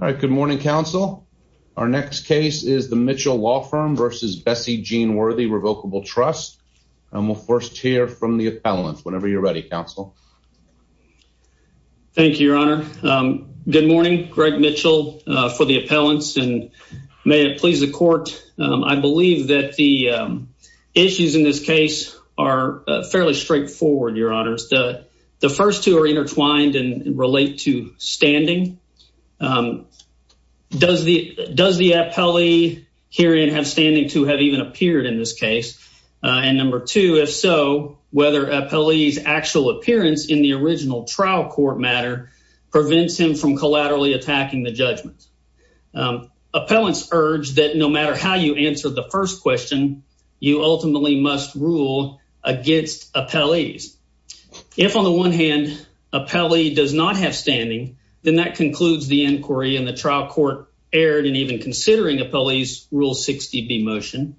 All right. Good morning, Counsel. Our next case is the Mitchell Law Firm v. Bessie Jeanne Worthy Revocable Trust. We'll first hear from the appellant. Whenever you're ready, Counsel. Thank you, Your Honor. Good morning. Greg Mitchell for the appellants, and may it please the court. I believe that the issues in this case are fairly straightforward, Your Honors. The first two are intertwined and relate to standing. Does the appellee herein have standing to have even appeared in this case? And number two, if so, whether appellee's actual appearance in the original trial court matter prevents him from collaterally attacking the judgment. Appellants urge that no matter how you answer the first question, you ultimately must rule against appellees. If on the one hand, appellee does not have standing, then that concludes the inquiry and the trial court erred in even considering appellee's Rule 60B motion.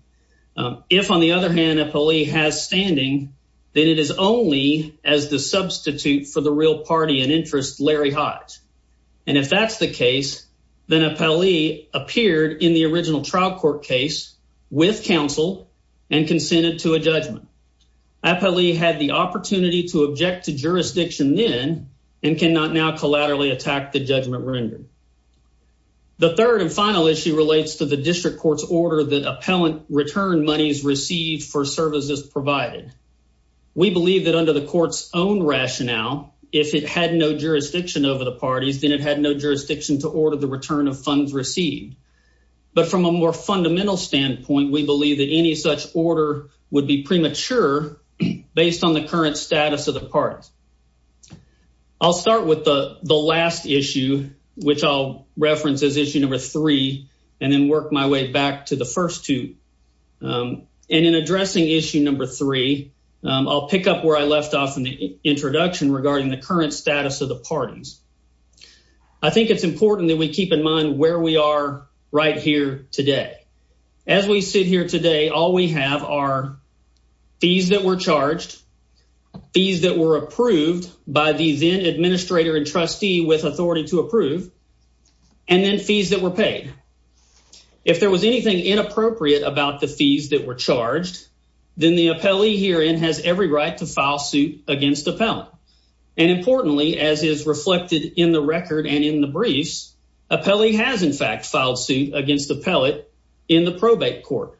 If on the other hand, appellee has standing, then it is only as the substitute for the real party and interest, Larry Hodge. And if that's the case, then appellee appeared in the original trial court case with counsel and consented to a judgment. Appellee had the opportunity to object to jurisdiction then and cannot now collaterally attack the judgment rendered. The third and final issue relates to the district court's order that appellant return monies received for services provided. We believe that under the court's own rationale, if it had no jurisdiction over the parties, then it had no jurisdiction to order the return of funds received. But from a more fundamental standpoint, we believe that any such order would be premature based on the current status of the parties. I'll start with the last issue, which I'll reference as issue number three, and then work my way back to the first two. And in addressing issue number three, I'll pick up where I left off in the introduction regarding the current status of the parties. I think it's important that we keep in mind where we are right here today. As we sit here today, all we have are fees that were charged, fees that were approved by the then administrator and trustee with authority to approve, and then fees that were paid. If there was anything inappropriate about the fees that were charged, then the appellee herein has every right to file suit against appellant. And importantly, as is reflected in the record and in the briefs, appellee has in fact filed suit against appellant in the probate court.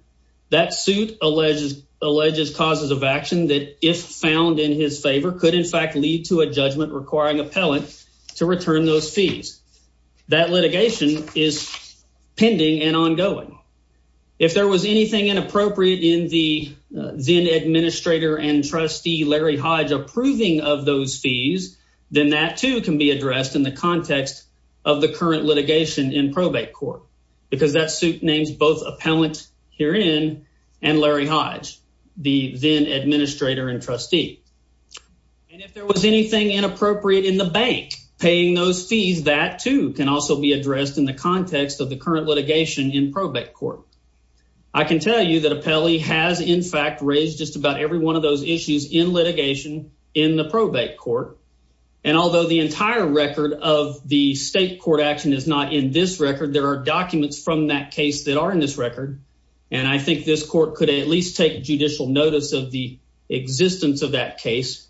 That suit alleges causes of action that if found in his favor could in fact lead to a judgment requiring appellant to return those fees. That litigation is pending and ongoing. If there was anything inappropriate in the then administrator and trustee Larry Hodge approving of those fees, then that too can be addressed in the context of the current litigation in probate court, because that suit names both appellant herein and Larry Hodge, the then administrator and trustee. And if there was anything inappropriate in the bank paying those fees, that too can also be has in fact raised just about every one of those issues in litigation in the probate court. And although the entire record of the state court action is not in this record, there are documents from that case that are in this record. And I think this court could at least take judicial notice of the existence of that case.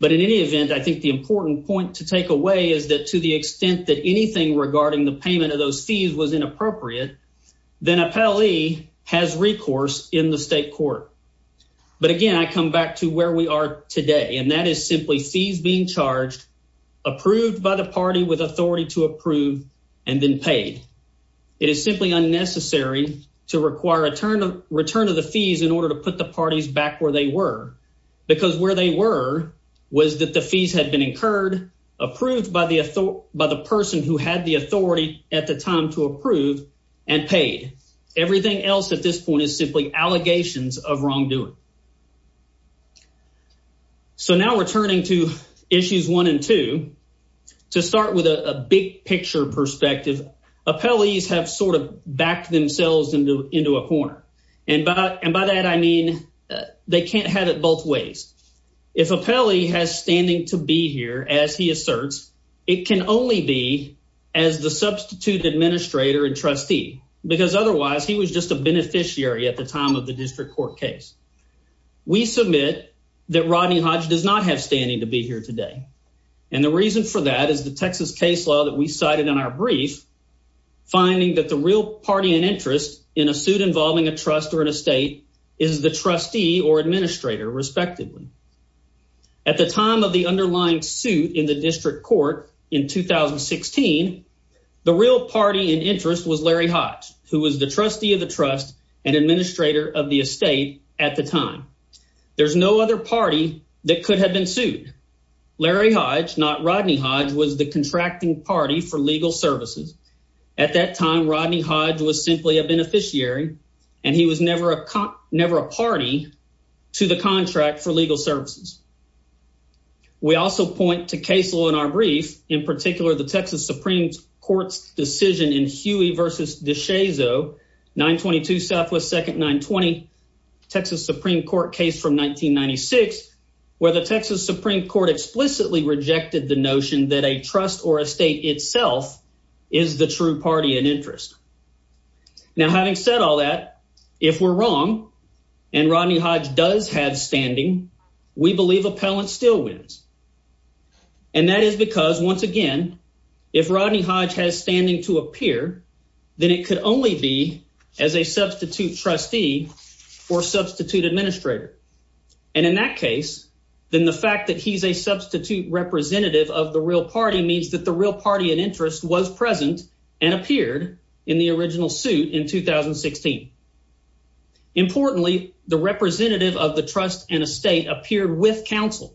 But in any event, I think the important point to take away is that to the extent that anything regarding the payment of those fees was inappropriate, then appellee has recourse in the state court. But again, I come back to where we are today, and that is simply fees being charged, approved by the party with authority to approve, and then paid. It is simply unnecessary to require a return of the fees in order to put the parties back where they were, because where they were was that the fees had been incurred, approved by the person who had the authority at the time to approve, and paid. Everything else at this point is simply allegations of wrongdoing. So now we're turning to issues one and two. To start with a big picture perspective, appellees have sort of backed themselves into a corner. And by that I mean they can't have it it can only be as the substitute administrator and trustee, because otherwise he was just a beneficiary at the time of the district court case. We submit that Rodney Hodge does not have standing to be here today. And the reason for that is the Texas case law that we cited in our brief, finding that the real party and interest in a suit involving a trust or an estate is the trustee or administrator respectively. At the time of the underlying suit in the district court in 2016, the real party and interest was Larry Hodge, who was the trustee of the trust and administrator of the estate at the time. There's no other party that could have been sued. Larry Hodge, not Rodney Hodge, was the contracting party for legal services. At that time, Rodney Hodge was simply a beneficiary and he was never a party to the contract for legal services. We also point to case law in our brief, in particular the Texas Supreme Court's decision in Huey v. DeShazo, 922 Southwest 2nd 920, Texas Supreme Court case from 1996, where the Texas Supreme Court explicitly rejected the notion that a trust or estate itself is the true party and interest. Now, having said all that, if we're wrong and Rodney Hodge does have standing, we believe appellant still wins. And that is because once again, if Rodney Hodge has standing to appear, then it could only be as a substitute trustee or substitute administrator. And in that case, then the fact that he's a substitute representative of the real party means that the real party and interest was present and appeared in the original suit in 2016. Importantly, the representative of the trust and estate appeared with counsel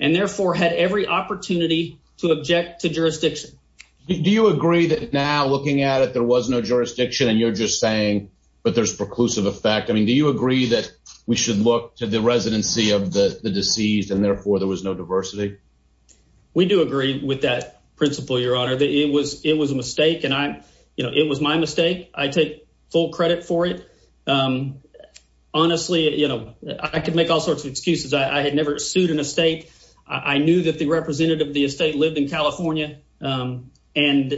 and therefore had every opportunity to object to jurisdiction. Do you agree that now looking at it, there was no jurisdiction and you're just saying, but there's preclusive effect. I mean, do you agree that we should look to the residency of the deceased and therefore there was no diversity? We do agree with that principle, your honor, that it was, it was a mistake. And I, you know, it was my mistake. I take full credit for it. Honestly, you know, I could make all sorts of excuses. I had never sued an estate. I knew that the representative of the estate lived in California and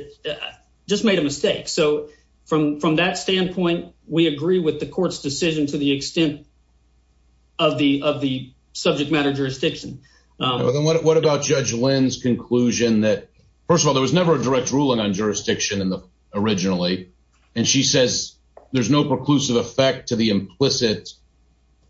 just made a mistake. So from, from that standpoint, we agree with the court's decision to the extent of the, of the subject matter jurisdiction. What about judge Lynn's conclusion that first of all, there was never a direct ruling on jurisdiction in the originally. And she says there's no preclusive effect to the implicit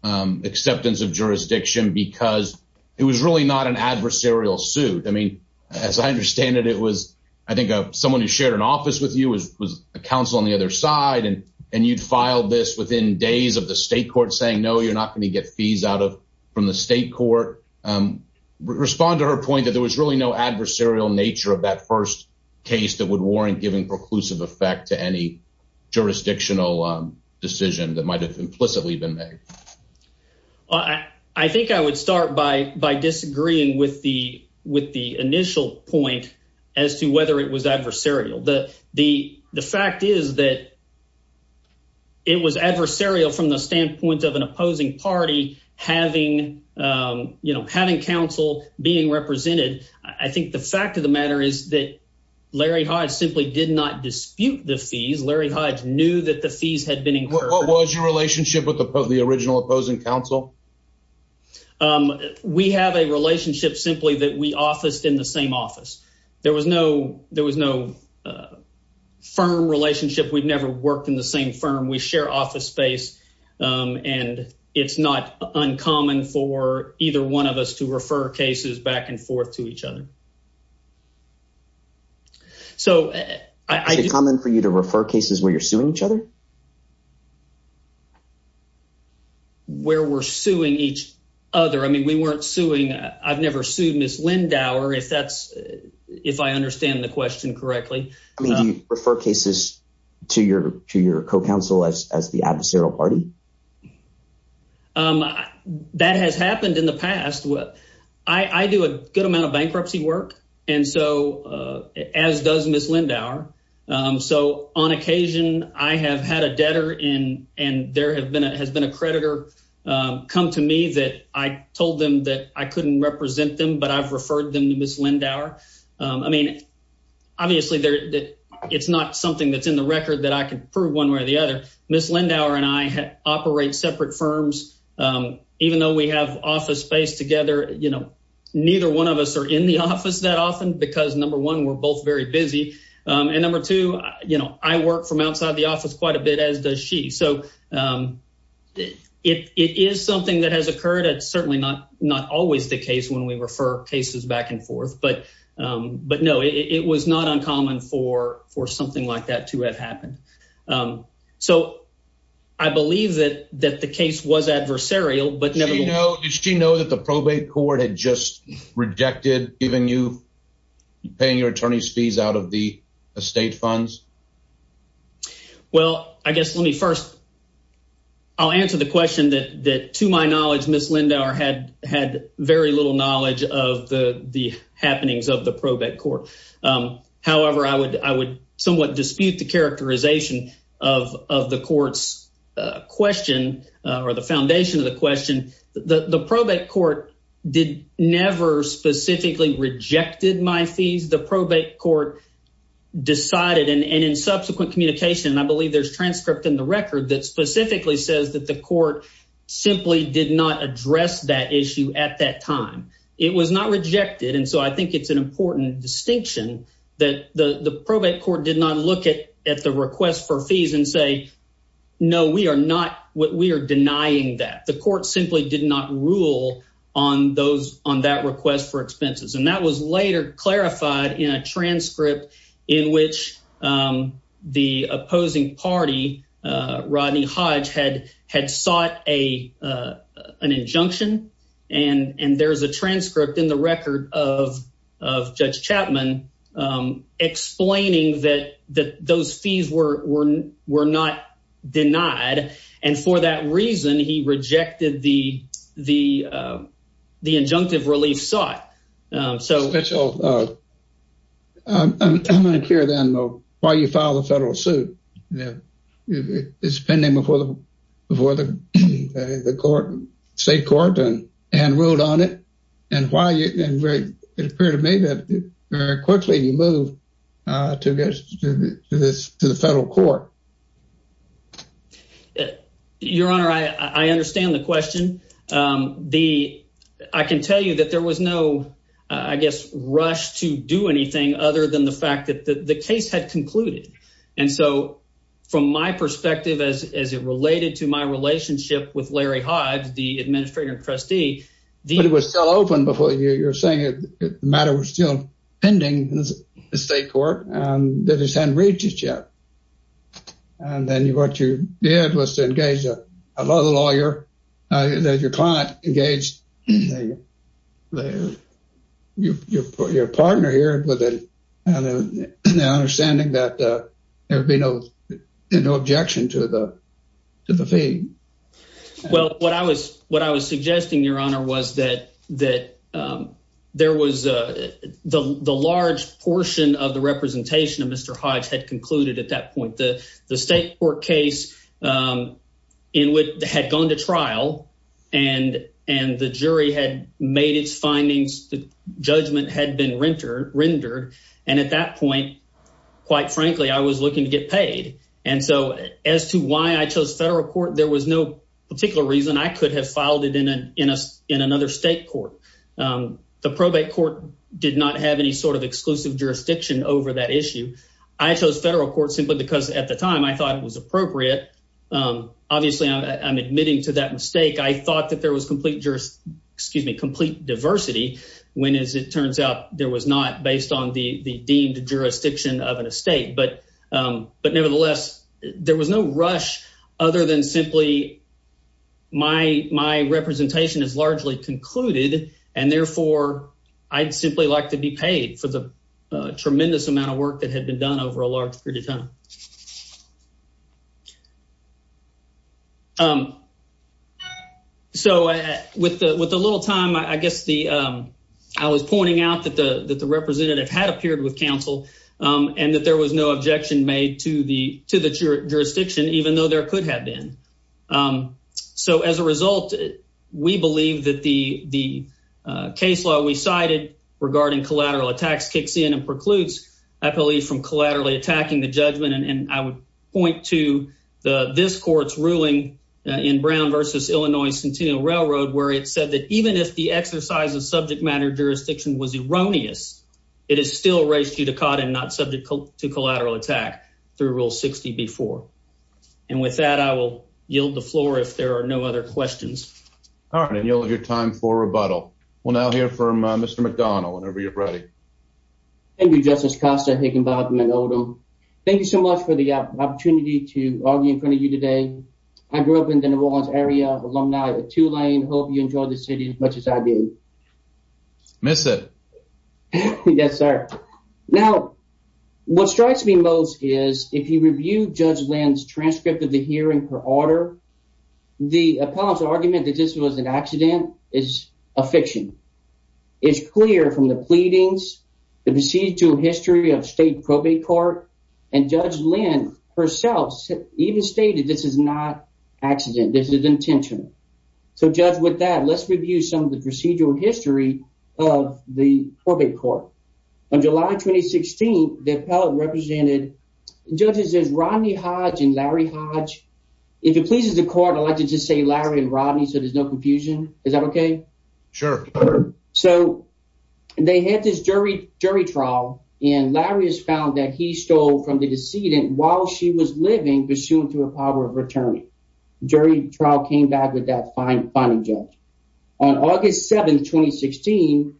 acceptance of jurisdiction because it was really not an adversarial suit. I mean, as I understand it, it was, I think someone who shared an office with you was a counsel on the other side and, and you'd filed this within days of the state court saying, no, you're not going to get fees out of, from the state court. Respond to her point that there was really no adversarial nature of that first case that would warrant giving preclusive effect to any jurisdictional decision that might've implicitly been made. I think I would start by, by disagreeing with the, with the initial point as to whether it was adversarial. The, the, the fact is that it was adversarial from the standpoint of an opposing party, having you know, having counsel being represented. I think the fact of the matter is that Larry Hodge simply did not dispute the fees. Larry Hodge knew that the fees had been incurred. What was your relationship with the original opposing counsel? We have a relationship simply that we officed in the same office. There was no, there was no firm relationship. We've never worked in the same firm. We share office space. And it's not uncommon for either one of us to refer cases back and forth to each other. So I- Is it common for you to refer cases where you're suing each other? Where we're suing each other. I mean, we weren't suing, I've never sued Ms. Lindauer if that's, if I understand the question correctly. I mean, do you refer cases to your, to your co-counsel as, as the adversarial party? That has happened in the past. I do a good amount of bankruptcy work. And so as does Ms. Lindauer. So on occasion I have had a debtor in, and there have been, has been a creditor come to me that I told them that I couldn't represent them, but I've referred them to Ms. Lindauer. I mean, obviously there, it's not something that's in the record that I can prove one way or the other. Ms. Lindauer and I operate separate firms. Even though we have office space together, you know, neither one of us are in the office that often because number one, we're both very busy. And number two, you know, I work from outside the office quite a bit as does she. So it, it is something that has occurred. It's certainly not, not always the case when we refer cases back and forth, but, but no, it was not uncommon for, for something like that to have happened. So I believe that, that the case was adversarial, but nevermind. Did she know that the probate court had just rejected giving you, paying your attorney's fees out of the estate funds? Well, I guess, let me first, I'll answer the question that, that to my knowledge, Ms. Lindauer has very little knowledge of the, the happenings of the probate court. However, I would, I would somewhat dispute the characterization of, of the court's question or the foundation of the question. The probate court did never specifically rejected my fees. The probate court decided, and in subsequent communication, and I believe there's transcript in the record that specifically says that the court simply did not address that issue at that time. It was not rejected. And so I think it's an important distinction that the, the probate court did not look at, at the request for fees and say, no, we are not what we are denying that the court simply did not rule on those on that request for expenses. And that was later clarified in a transcript in which the opposing party, Rodney Hodge, had, had sought a, an injunction. And, and there's a transcript in the record of, of Judge Chapman explaining that, that those fees were, were, were not denied. And for that reason, he rejected the, the, the injunctive relief sought. So. Mitchell, I'm, I'm, I'm unclear then why you filed a federal suit. It's pending before the, before the, the court, state court and, and ruled on it. And why you, and very, it appeared to me that very quickly you moved to this, to the federal court. Your Honor, I, I understand the question. The, I can tell you that there was no, I guess, rush to do anything other than the fact that the, the case had concluded. And so from my perspective, as, as it related to my relationship with Larry Hodge, the administrator and trustee, the- But it was still open before you, you're saying that the matter was still pending in the state court and that it hadn't reached it yet. And then what you did was to engage a lawyer, that your client engaged your partner here with an understanding that there'd be no, no objection to the, to the fee. Well, what I was, what I was suggesting, Your Honor, was that, that there was a, the, the large portion of the representation of Mr. Hodge had concluded at that point. The, the state court case in which, had gone to trial and, and the jury had made its findings, the judgment had been rendered, rendered. And at that point, quite frankly, I was looking to get registered. And there was no particular reason I could have filed it in, in a, in another state court. The probate court did not have any sort of exclusive jurisdiction over that issue. I chose federal court simply because at the time I thought it was appropriate, obviously I'm admitting to that mistake. I thought that there was complete juris, excuse me, complete diversity, when as it turns out there was not based on the, the deemed jurisdiction of an estate, but, but nevertheless, there was no rush other than simply my, my representation is largely concluded and therefore I'd simply like to be paid for the tremendous amount of work that had been done over a large period of time. So with the, with the little time, I guess the, I was pointing out that the, that the representative had appeared with counsel and that there was no objection made to the, to the jurisdiction, even though there could have been. So as a result, we believe that the, the case law we cited regarding collateral attacks kicks in and precludes, I believe, from collaterally attacking the judgment. And I would point to the, this court's ruling in Brown versus Illinois Centennial Railroad, where it said that even if the exercise of subject matter jurisdiction was erroneous, it is still res judicata and not subject to collateral attack through Rule 60B4. And with that, I will yield the floor if there are no other questions. All right. And you'll have your time for rebuttal. We'll now hear from Mr. McDonald, whenever you're ready. Thank you, Justice Costa, Higginbotham, and Odom. Thank you so much for the opportunity to argue in front of you today. I grew up in the New Orleans area, alumni of Tulane. Hope you enjoy the city as much as I do. Miss it. Yes, sir. Now, what strikes me most is if you review Judge Lynn's transcript of the hearing per order, the appellant's argument that this was an accident is a fiction. It's clear from the pleadings, the procedural history of state probate court, and Judge Lynn herself even stated this is not accident. This is intentional. So, Judge, with that, let's review some of the procedural history of the probate court. On July 2016, the appellant represented judges as Rodney Hodge and Larry Hodge. If it pleases the court, I'd like to just say Larry and Rodney so there's no confusion. Is that okay? Sure. So, they had this jury trial, and Larry has found that he stole from the decedent while she was living, pursuant to a power of returning. Jury trial came back with that finding, Judge. On August 7, 2016,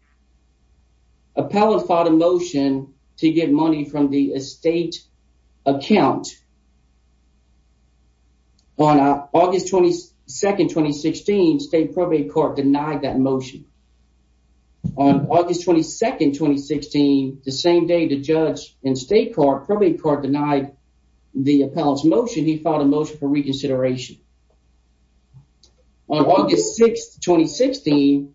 appellant filed a motion to get money from the estate account. On August 22, 2016, state probate court denied that motion. On August 22, 2016, the same day, in state court, probate court denied the appellant's motion. He filed a motion for reconsideration. On August 6, 2016,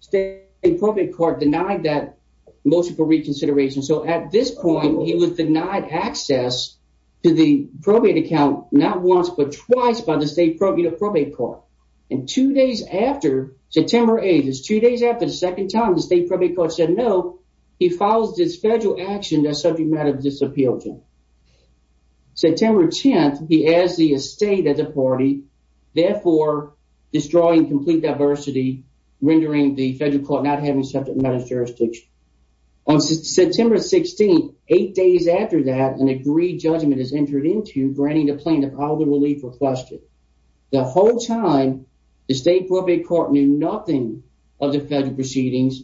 state probate court denied that motion for reconsideration. So, at this point, he was denied access to the probate account not once but twice by the state probate court. And two days after, September 8, two days after the second time, the state probate court said no. He filed this federal action that subject matter disappealed to. September 10, he asked the estate at the party, therefore, destroying complete diversity, rendering the federal court not having subject matter jurisdiction. On September 16, eight days after that, an agreed judgment is entered into, granting the plaintiff all the relief requested. The whole time, the state probate court knew nothing of the federal proceedings.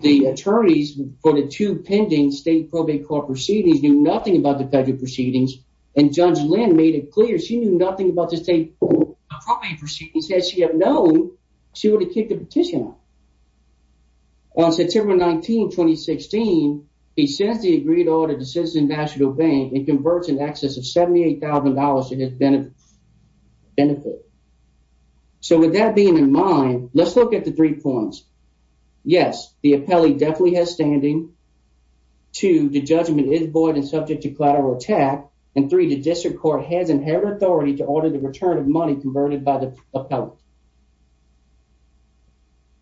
The attorneys for the two pending state probate court proceedings knew nothing about the federal proceedings, and Judge Lynn made it clear she knew nothing about the state probate proceedings. Had she known, she would have kicked the petition off. On September 19, 2016, he sends the agreed order to Citizens National Bank and converts in excess of $78,000 to his benefit. So, with that being in mind, let's look at the three points. Yes, the appellee definitely has standing. Two, the judgment is void and subject to collateral attack. And three, the district court has inherited authority to order the return of money converted by the appellate.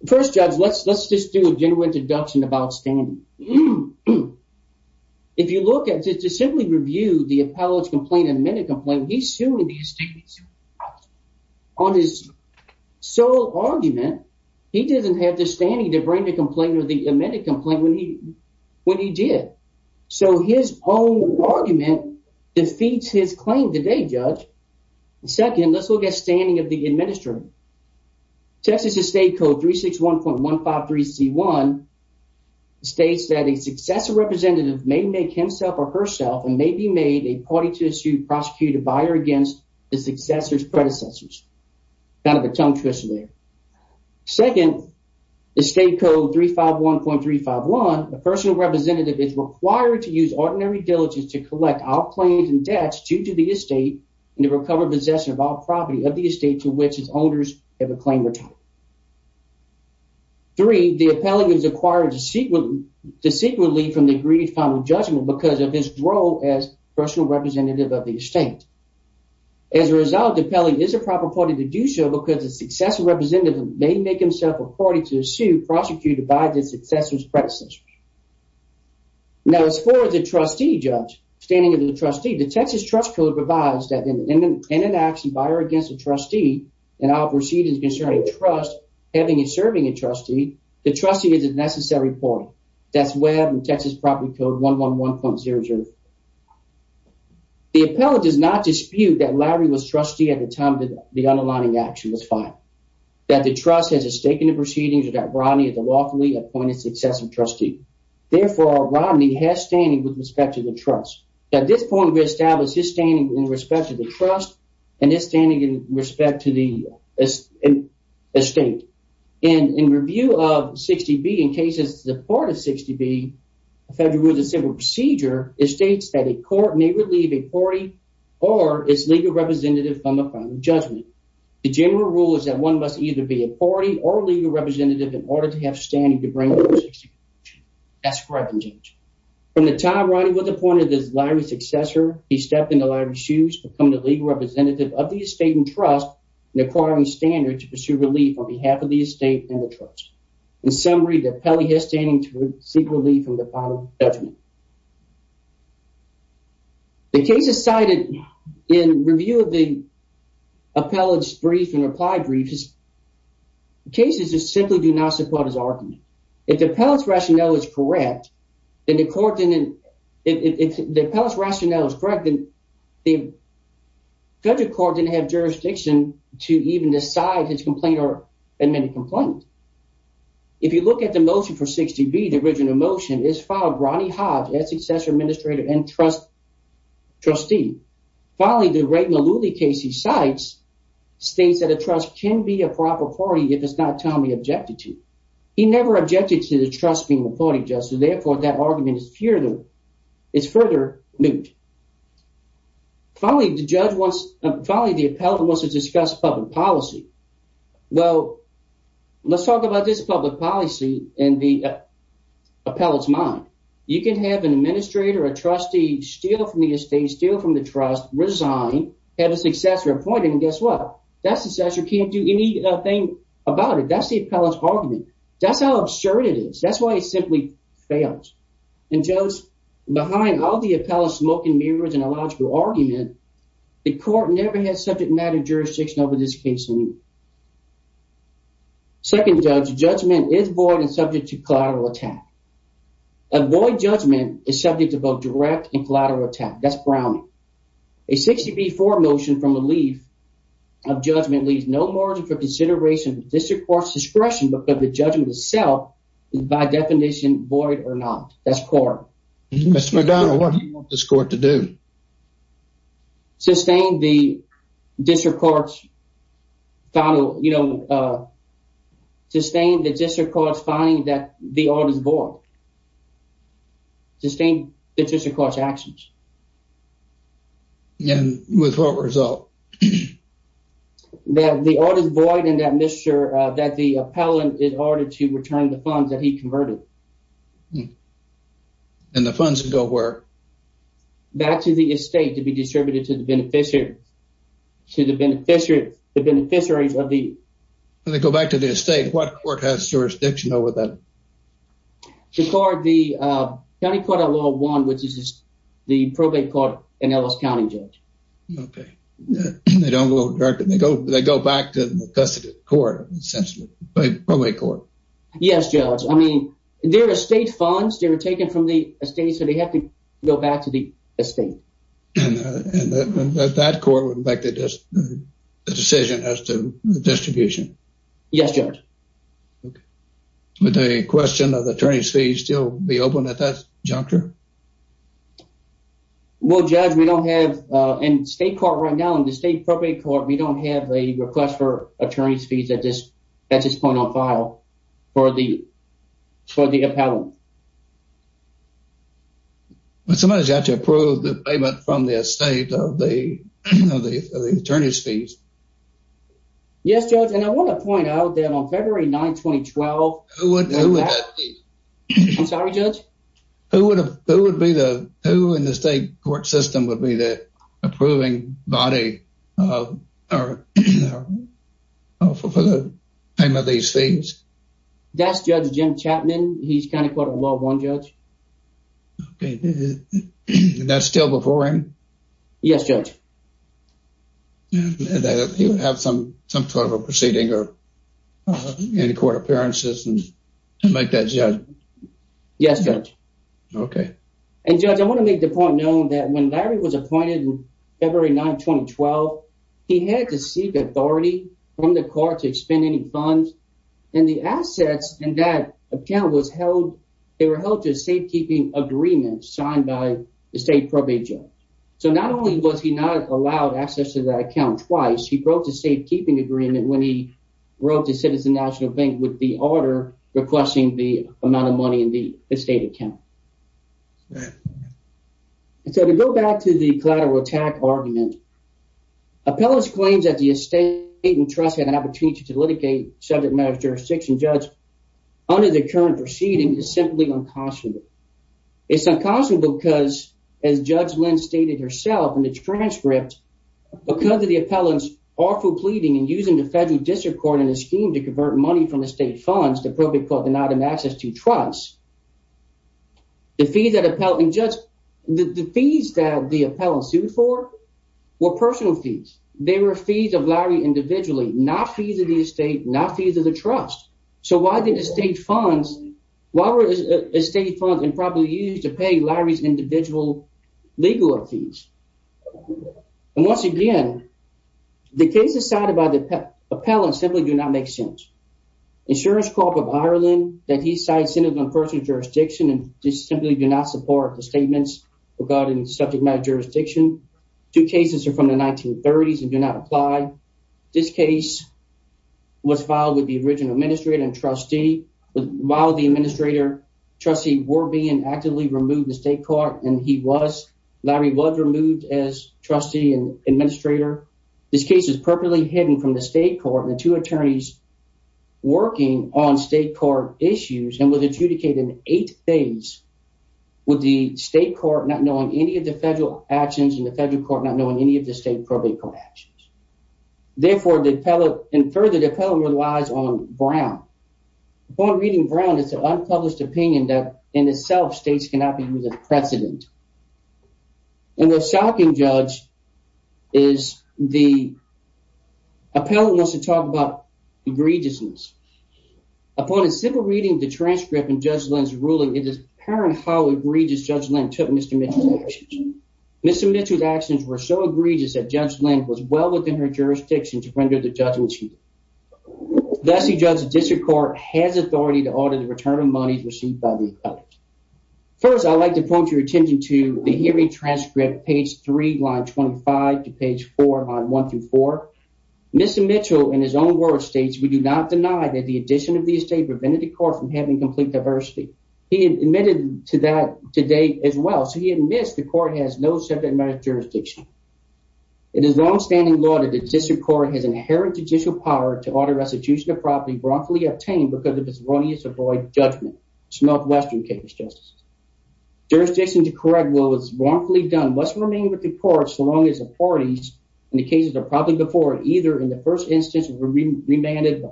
First, Judge, let's just do a general introduction about standing. Mm-hmm. If you look at, just to simply review the appellate's complaint, amended complaint, he's suing the estate on his sole argument. He doesn't have the standing to bring the complaint or the amended complaint when he did. So, his own argument defeats his claim today, Judge. Second, let's look at standing of the administrator. Texas estate code 361.153c1, states that a successor representative may make himself or herself and may be made a party to issue, prosecute a buyer against the successor's predecessors. Kind of a tongue twister there. Second, estate code 351.351, a personal representative is required to use ordinary diligence to collect all claims and debts due to the estate and to recover possession of all acquired dissequently from the agreed final judgment because of his role as personal representative of the estate. As a result, the appellate is the proper party to do so because the successor representative may make himself or herself a party to the suit prosecuted by the successor's predecessors. Now, as far as the trustee, Judge, standing of the trustee, the Texas trust code provides that in an action by or against a trustee, and I'll proceed as having and serving a trustee, the trustee is a necessary party. That's web and Texas property code 111.00. The appellate does not dispute that Larry was trustee at the time that the underlining action was filed, that the trust has a stake in the proceedings or that Rodney is a lawfully appointed successor trustee. Therefore, Rodney has standing with respect to the trust. At this point, we establish his standing in respect to the trust and his standing in respect to the estate. And in review of 60B in cases, the part of 60B federal with a civil procedure, it states that a court may relieve a party or its legal representative from the final judgment. The general rule is that one must either be a party or legal representative in order to have standing to bring. That's correct. From the time Rodney was appointed as Larry's successor, he stepped into Larry's shoes, becoming the legal representative of the estate and trust and acquiring standards to pursue relief on behalf of the estate and the trust. In summary, the appellate has standing to receive relief from the final judgment. The case is cited in review of the appellate's brief and reply brief. The cases just simply do not support his argument. If the appellate's rationale is correct, then the court didn't. If the appellate's rationale is correct, then the federal court didn't have jurisdiction to even decide his complaint or admit a complaint. If you look at the motion for 60B, the original motion is filed Rodney Hodge as successor administrator and trust trustee. Finally, the Ray Malooly case he cites states that a trust can be a proper party if it's not timely objected to. He never objected to the trust being the party therefore that argument is further moot. Finally, the appellate wants to discuss public policy. Well, let's talk about this public policy in the appellate's mind. You can have an administrator, a trustee, steal from the estate, steal from the trust, resign, have a successor appointed, and guess what? That successor can't do anything about it. That's the appellate's argument. That's how absurd it is. That's why it simply fails. And behind all the appellate's smoking mirrors and illogical argument, the court never had subject matter jurisdiction over this case. Second judge, judgment is void and subject to collateral attack. A void judgment is subject to both direct and collateral attack. That's Browning. A 60B-4 motion from relief of judgment leaves no margin for consideration of the district court's discretion because the judgment itself is by definition void or not. That's court. Mr. McDonough, what do you want this court to do? Sustain the district court's final, you know, sustain the district court's finding that the order's void. Sustain the district court's actions. And with what result? That the order's void and that the appellant is ordered to return the funds that he converted. And the funds go where? Back to the estate to be distributed to the beneficiary, to the beneficiaries of the... When they go back to the estate, what court has jurisdiction over that? The county court of law one, which is the probate court in Ellis County, Judge. Okay. They go back to the custody court, essentially, probate court. Yes, Judge. I mean, they're estate funds. They were taken from the estate, so they have to go back to the estate. And that court would make the decision as to distribution? Yes, Judge. Okay. Would the question of the attorney's fee still be open at that juncture? Well, Judge, we don't have... In state court right now, in the state probate court, we don't have a request for attorney's fees at this point on file for the appellant. But somebody's got to approve the payment from the estate of the attorney's fees. Yes, Judge. And I want to point out that on February 9, 2012... Who would... Who would have... I'm sorry, Judge? Who would be the... Who in the state court system would be the approving body for the payment of these fees? That's Judge Jim Chapman. He's county court of law one, Judge. Okay. And that's still before him? Yes, Judge. He would have some sort of a proceeding or any court appearances to make that judge? Yes, Judge. Okay. And, Judge, I want to make the point known that when Larry was appointed in February 9, 2012, he had to seek authority from the court to expend any funds. And the assets in that account was held... They were held to a safekeeping agreement signed by the state probate judge. So not only was he not allowed access to that account twice, he broke the safekeeping agreement when he the order requesting the amount of money in the estate account. So to go back to the collateral attack argument, appellants claims that the estate and trust had an opportunity to litigate subject matter jurisdiction judge under the current proceeding is simply unconscionable. It's unconscionable because, as Judge Lynn stated herself in the transcript, because of the appellants awful pleading and using the federal district court in to convert money from the state funds, the probate court denied him access to trust. The fees that appellant... And, Judge, the fees that the appellants sued for were personal fees. They were fees of Larry individually, not fees of the estate, not fees of the trust. So why did the state funds... Why were estate funds improperly used to pay Larry's individual legal fees? And once again, the case decided by the insurance corp of Ireland that he cited personal jurisdiction and just simply do not support the statements regarding subject matter jurisdiction. Two cases are from the 1930s and do not apply. This case was filed with the original administrator and trustee. While the administrator trustee were being actively removed the state court and he was, Larry was removed as trustee administrator. This case is perfectly hidden from the state court and the two attorneys working on state court issues and was adjudicated in eight days with the state court not knowing any of the federal actions and the federal court not knowing any of the state probate court actions. Therefore, the appellant... And further, the appellant relies on Brown. Upon reading Brown, it's an unpublished opinion that in itself states cannot be used as precedent. And the shocking judge is the... Appellant wants to talk about egregiousness. Upon a simple reading of the transcript in Judge Lynn's ruling, it is apparent how egregious Judge Lynn took Mr. Mitchell's actions. Mr. Mitchell's actions were so egregious that Judge Lynn was well within her jurisdiction to render the judgment to him. The S.E. Judge's district court has authority to audit the return monies received by the appellant. First, I'd like to point your attention to the hearing transcript, page three, line 25, to page four, line one through four. Mr. Mitchell, in his own words, states, we do not deny that the addition of the estate prevented the court from having complete diversity. He admitted to that today as well. So he admits the court has no subject matter jurisdiction. It is longstanding law that the district court has inherent judicial power to avoid judgment. It's not Western cases, just jurisdictions to correct what was wrongfully done must remain with the court so long as the parties and the cases are probably before either in the first instance were remanded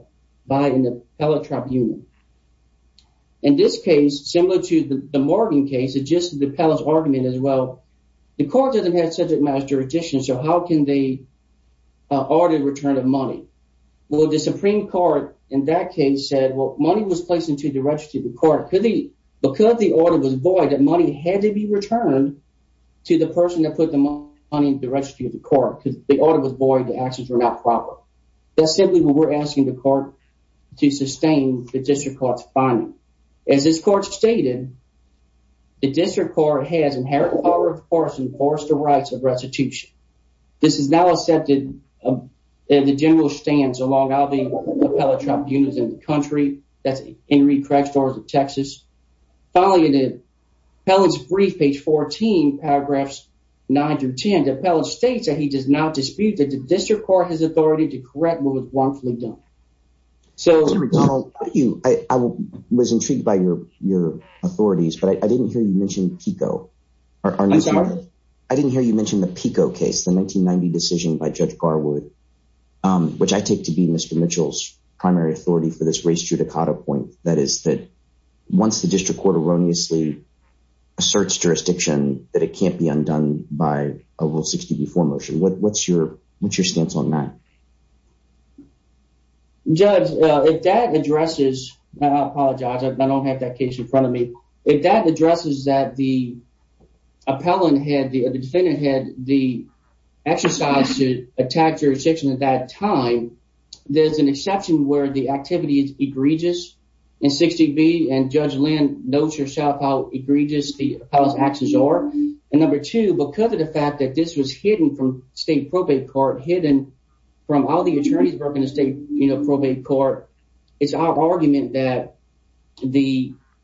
by an appellate tribunal. In this case, similar to the Morgan case, it's just the appellant's argument as well. The court doesn't have subject matter jurisdiction, so how can they audit return of money? Well, the Supreme Court in that case said, well, money was placed into the registry of the court. Because the order was void, that money had to be returned to the person that put the money in the registry of the court. Because the order was void, the actions were not proper. That's simply what we're asking the court to sustain the district court's finding. As this court stated, the district court has inherent power to enforce the rights of restitution. This is now accepted in the general stands along all the appellate tribunals in the country. That's Henry Craig Storrs of Texas. Finally, in the appellant's brief, page 14, paragraphs 9 through 10, the appellant states that he does not dispute that the district court has authority to correct what was wrongfully done. I was intrigued by your authorities, but I didn't hear you mention PICO. I'm sorry? I didn't hear you mention the PICO case, the 1990 decision by Judge Garwood, which I take to be Mr. Mitchell's primary authority for this race judicata point. That is that once the district court erroneously asserts jurisdiction, that it can't be undone by a Rule 60b4 motion. What's your stance on that? Judge, if that addresses, I apologize, I don't have that case in front of me. If that addresses that the appellant had, the defendant had the exercise to attack jurisdiction at that time, there's an exception where the activity is egregious in 60b, and Judge Lynn notes herself how egregious the appellant's actions are. And number two, because of the fact that this was hidden from state probate court, hidden from all the the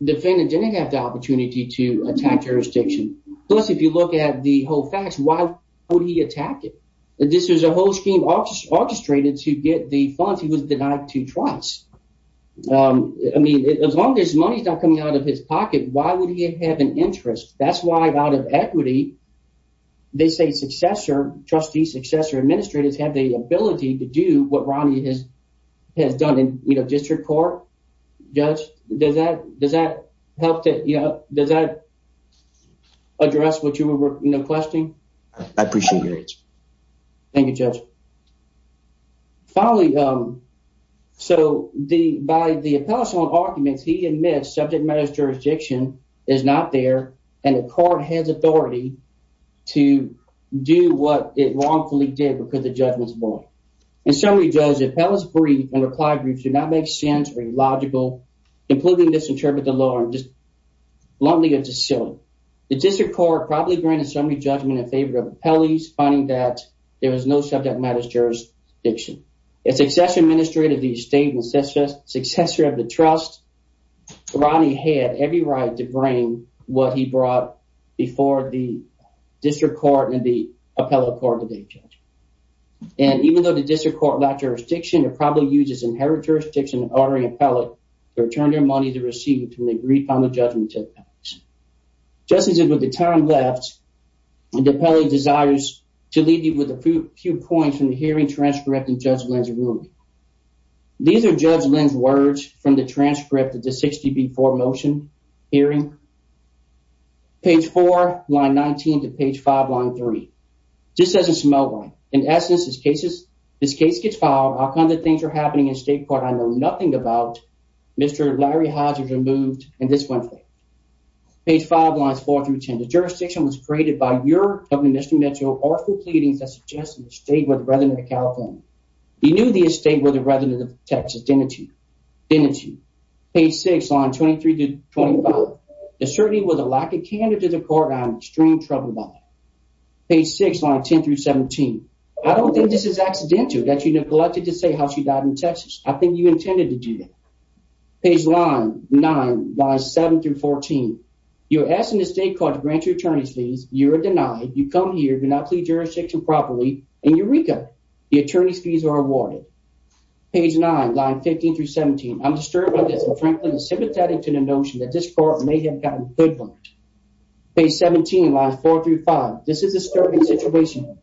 defendant didn't have the opportunity to attack jurisdiction. Plus, if you look at the whole facts, why would he attack it? This was a whole scheme orchestrated to get the funds he was denied to twice. I mean, as long as money's not coming out of his pocket, why would he have an interest? That's why out of equity, they say successor, trustees, successor, administrators have the ability to do what Ronnie has has done in, you know, district court. Judge, does that does that help to, you know, does that address what you were questioning? I appreciate it. Thank you, Judge. Finally, so the by the appellate's own arguments, he admits subject matters jurisdiction is not there, and the court has authority to do what it wrongfully did because the judgment's wrong. In summary, Judge, appellate's brief and reply briefs do not make sense or illogical, including misinterpret the law, and just bluntly it's just silly. The district court probably granted summary judgment in favor of appellees, finding that there was no subject matters jurisdiction. A successor administrator of the estate and successor of the trust, Ronnie had every right to bring what he brought before the district court and the appellate court today, Judge. And even though the district court lacked jurisdiction, it probably used its inherent jurisdiction in ordering appellate to return their money they received when they briefed on the judgment to the appellate. Just as with the time left, the appellate desires to leave you with a few points from the hearing transcript and Judge Lynn's ruling. These are Judge Lynn's words from the transcript of the 60B4 motion hearing. Page 4, line 19 to page 5, line 3. This doesn't smell right. In essence, this case gets filed. All kinds of things are happening in state court I know nothing about. Mr. Larry Hodge was removed and this went through. Page 5, lines 4 through 10. The jurisdiction was created by your governor, Mr. Mitchell, or through pleadings that suggested the estate were the resident of California. He knew the estate were the resident of Texas, didn't he? Page 6, lines 23 to 25. The certainty was a lack of candor to the court. I'm in extreme trouble about that. Page 6, lines 10 through 17. I don't think this is accidental that you neglected to say how she died in Texas. I think you intended to do that. Page 9, lines 7 through 14. You're asking the state court to grant you attorney's fees. You are denied. You come here. Do not plead jurisdiction properly. And Eureka, the attorney's fees are awarded. Page 9, lines 15 through 17. I'm disturbed by this. I'm frankly sympathetic to the notion that this court may have gotten good work. Page 17, lines 4 through 5. This is a disturbing situation.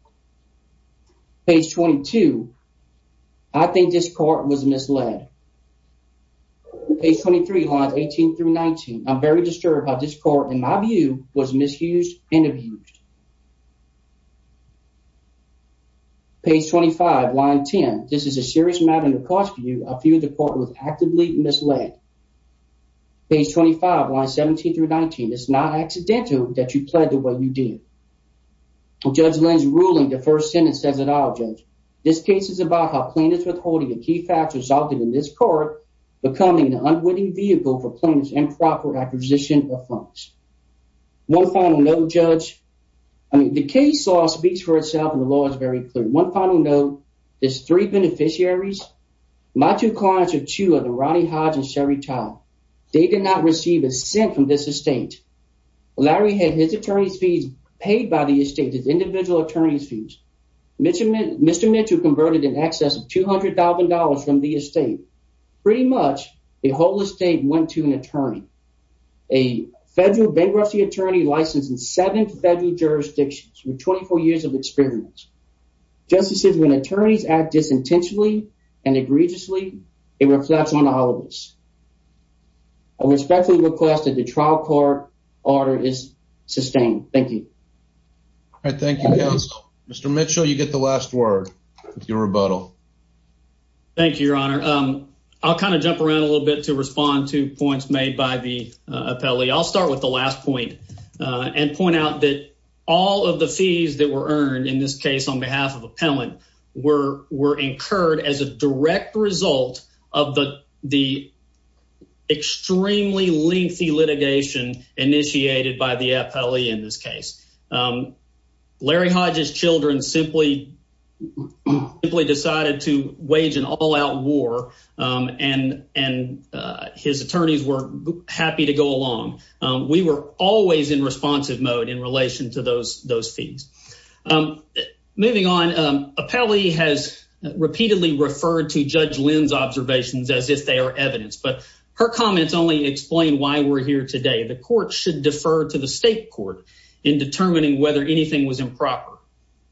Page 22. I think this court was misled. Page 23, lines 18 through 19. I'm very disturbed how this court, in my view, was misused and abused. Page 25, lines 10. This is a serious matter in the court's view. I feel the court was actively misled. Page 25, lines 17 through 19. It's not accidental that you pled the way you did. Judge Lynn's ruling, the first sentence says it all, Judge. This case is about how plaintiff's withholding of key facts resulted in this court becoming an unwitting vehicle for plaintiff's improper acquisition of funds. One final note, Judge. I mean, the case law speaks for itself, and the law is very clear. One final note. There's three beneficiaries. My two clients are two of the Rodney Hodge and Sherry Todd. They did not receive a cent from this estate. Larry had his attorney's fees paid by the estate, his individual attorney's fees. Mr. Mitchell converted in excess of $200,000 from the estate. Pretty much, the whole estate went to an attorney. A federal bankruptcy attorney licensed in seven federal jurisdictions with 24 years of experience. Justices, when attorneys act disintentionally and egregiously, it reflects on the holidays. I respectfully request that the trial court order is sustained. Thank you. All right, thank you, counsel. Mr. Mitchell, you get the last word, your rebuttal. Thank you, your honor. I'll kind of jump around a little bit to respond to points made by the appellee. I'll start with the last point and point out that all of the fees that were earned in this case on behalf of appellant were incurred as a direct result of the extremely lengthy litigation initiated by the appellee in this case. Larry Hodge's children simply decided to wage an all-out war and his attorneys were happy to go along. We were always in responsive mode in relation to those fees. Moving on, appellee has repeatedly referred to Judge Lynn's observations as if they are evidence, but her comments only explain why we're here today. The court should defer to the state court in determining whether anything was improper.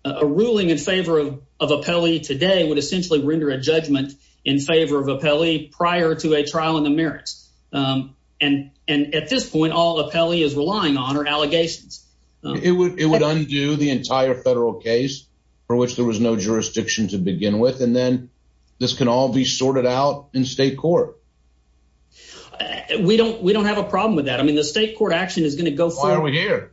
A ruling in favor of appellee today would essentially render a judgment in favor of appellee prior to a trial in the merits. And at this point, all appellee is relying on are allegations. It would undo the entire federal case for which there was no jurisdiction to begin with and then this can all be sorted out in state court. We don't have a problem with that. I mean, the state court action is going to go forward. Why are we here?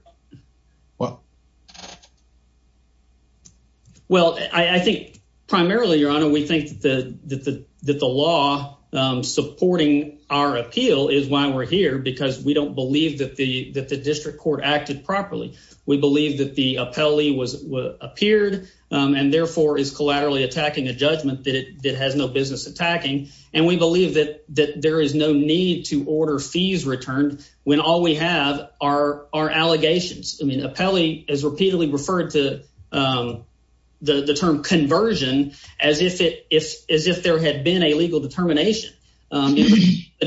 Well, I think primarily your honor, we think that the law supporting our appeal is why we're here because we don't believe that the district court acted properly. We believe that the appellee appeared and therefore is collaterally attacking a judgment that it has no business attacking and we believe that there is no need to order fees returned when all we have are allegations. I mean, appellee is repeatedly referred to the term conversion as if there had been a legal determination. In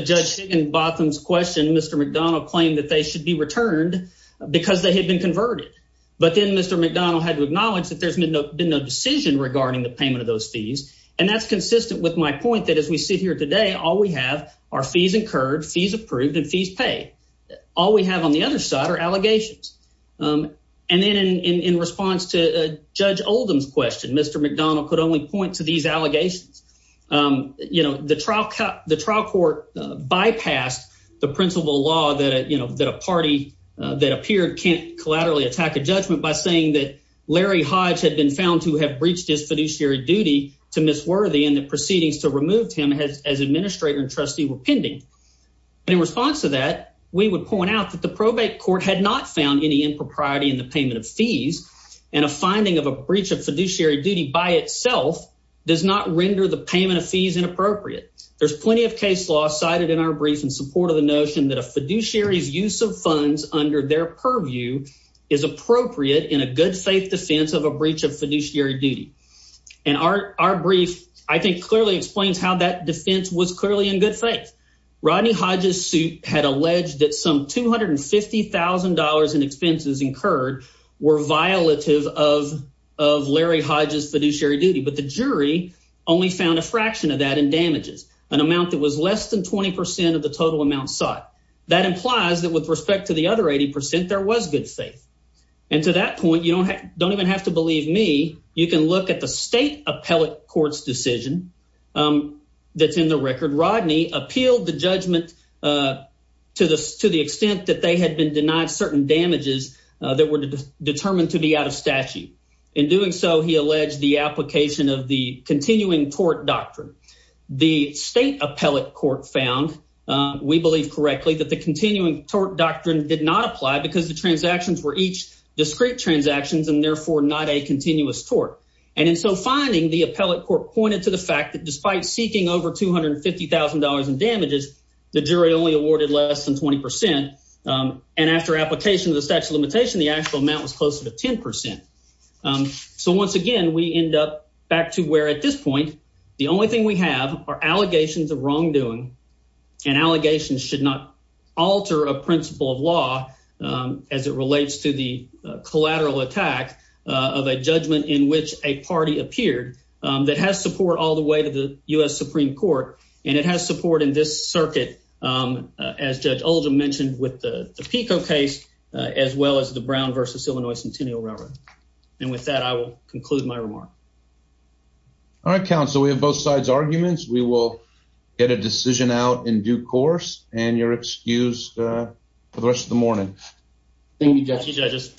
Judge Higginbotham's question, Mr. McDonald claimed that they should be returned because they had been converted. But then Mr. McDonald had to acknowledge that there's been no decision regarding the payment of those fees. And that's consistent with my point that as we sit here today, all we have are fees incurred, fees approved and fees paid. All we have on the other side are allegations. And then in response to Judge Oldham's question, Mr. McDonald could only point to these allegations. The trial court bypassed the principal law that a party that appeared can't collaterally attack a judgment by saying that Larry Hodge had been found to have breached his fiduciary duty to Miss Worthy and the proceedings to remove him as administrator and trustee were pending. In response to that, we would point out that the probate court had not found any impropriety in the payment of fees and a finding of a breach of fiduciary duty by itself does not render the payment of fees inappropriate. There's plenty of case law cited in our brief in support of the notion that a fiduciary's use of funds under their purview is appropriate in a good faith defense of a breach of fiduciary duty. And our brief, I think clearly explains how that defense was clearly in good faith. Rodney Hodge's suit had alleged that some $250,000 in expenses incurred were violative of Larry Hodge's fiduciary duty, but the jury only found a fraction of that in damages, an amount that was less than 20% of the total amount sought. That implies that with respect to the other 80%, there was good faith. And to that point, you don't even have to believe me, you can look at the state appellate court's decision that's in the record. Rodney appealed the judgment to the extent that they had been denied certain damages that were determined to be out of statute. In doing so, he alleged the application of the continuing tort doctrine. The state appellate court found, we believe correctly, that the continuing tort doctrine did not apply because the transactions were each discrete transactions and therefore not continuous tort. And in so finding, the appellate court pointed to the fact that despite seeking over $250,000 in damages, the jury only awarded less than 20%. And after application of the statute of limitation, the actual amount was closer to 10%. So once again, we end up back to where at this point, the only thing we have are allegations of wrongdoing and allegations should alter a principle of law as it relates to the collateral attack of a judgment in which a party appeared that has support all the way to the U.S. Supreme Court and it has support in this circuit as Judge Oldham mentioned with the PICO case as well as the Brown versus Illinois Centennial Railroad. And with that, I will conclude my remark. All right, counsel, we have both sides' arguments. We will get a decision out in due course and you're excused for the rest of the morning. Thank you, judges.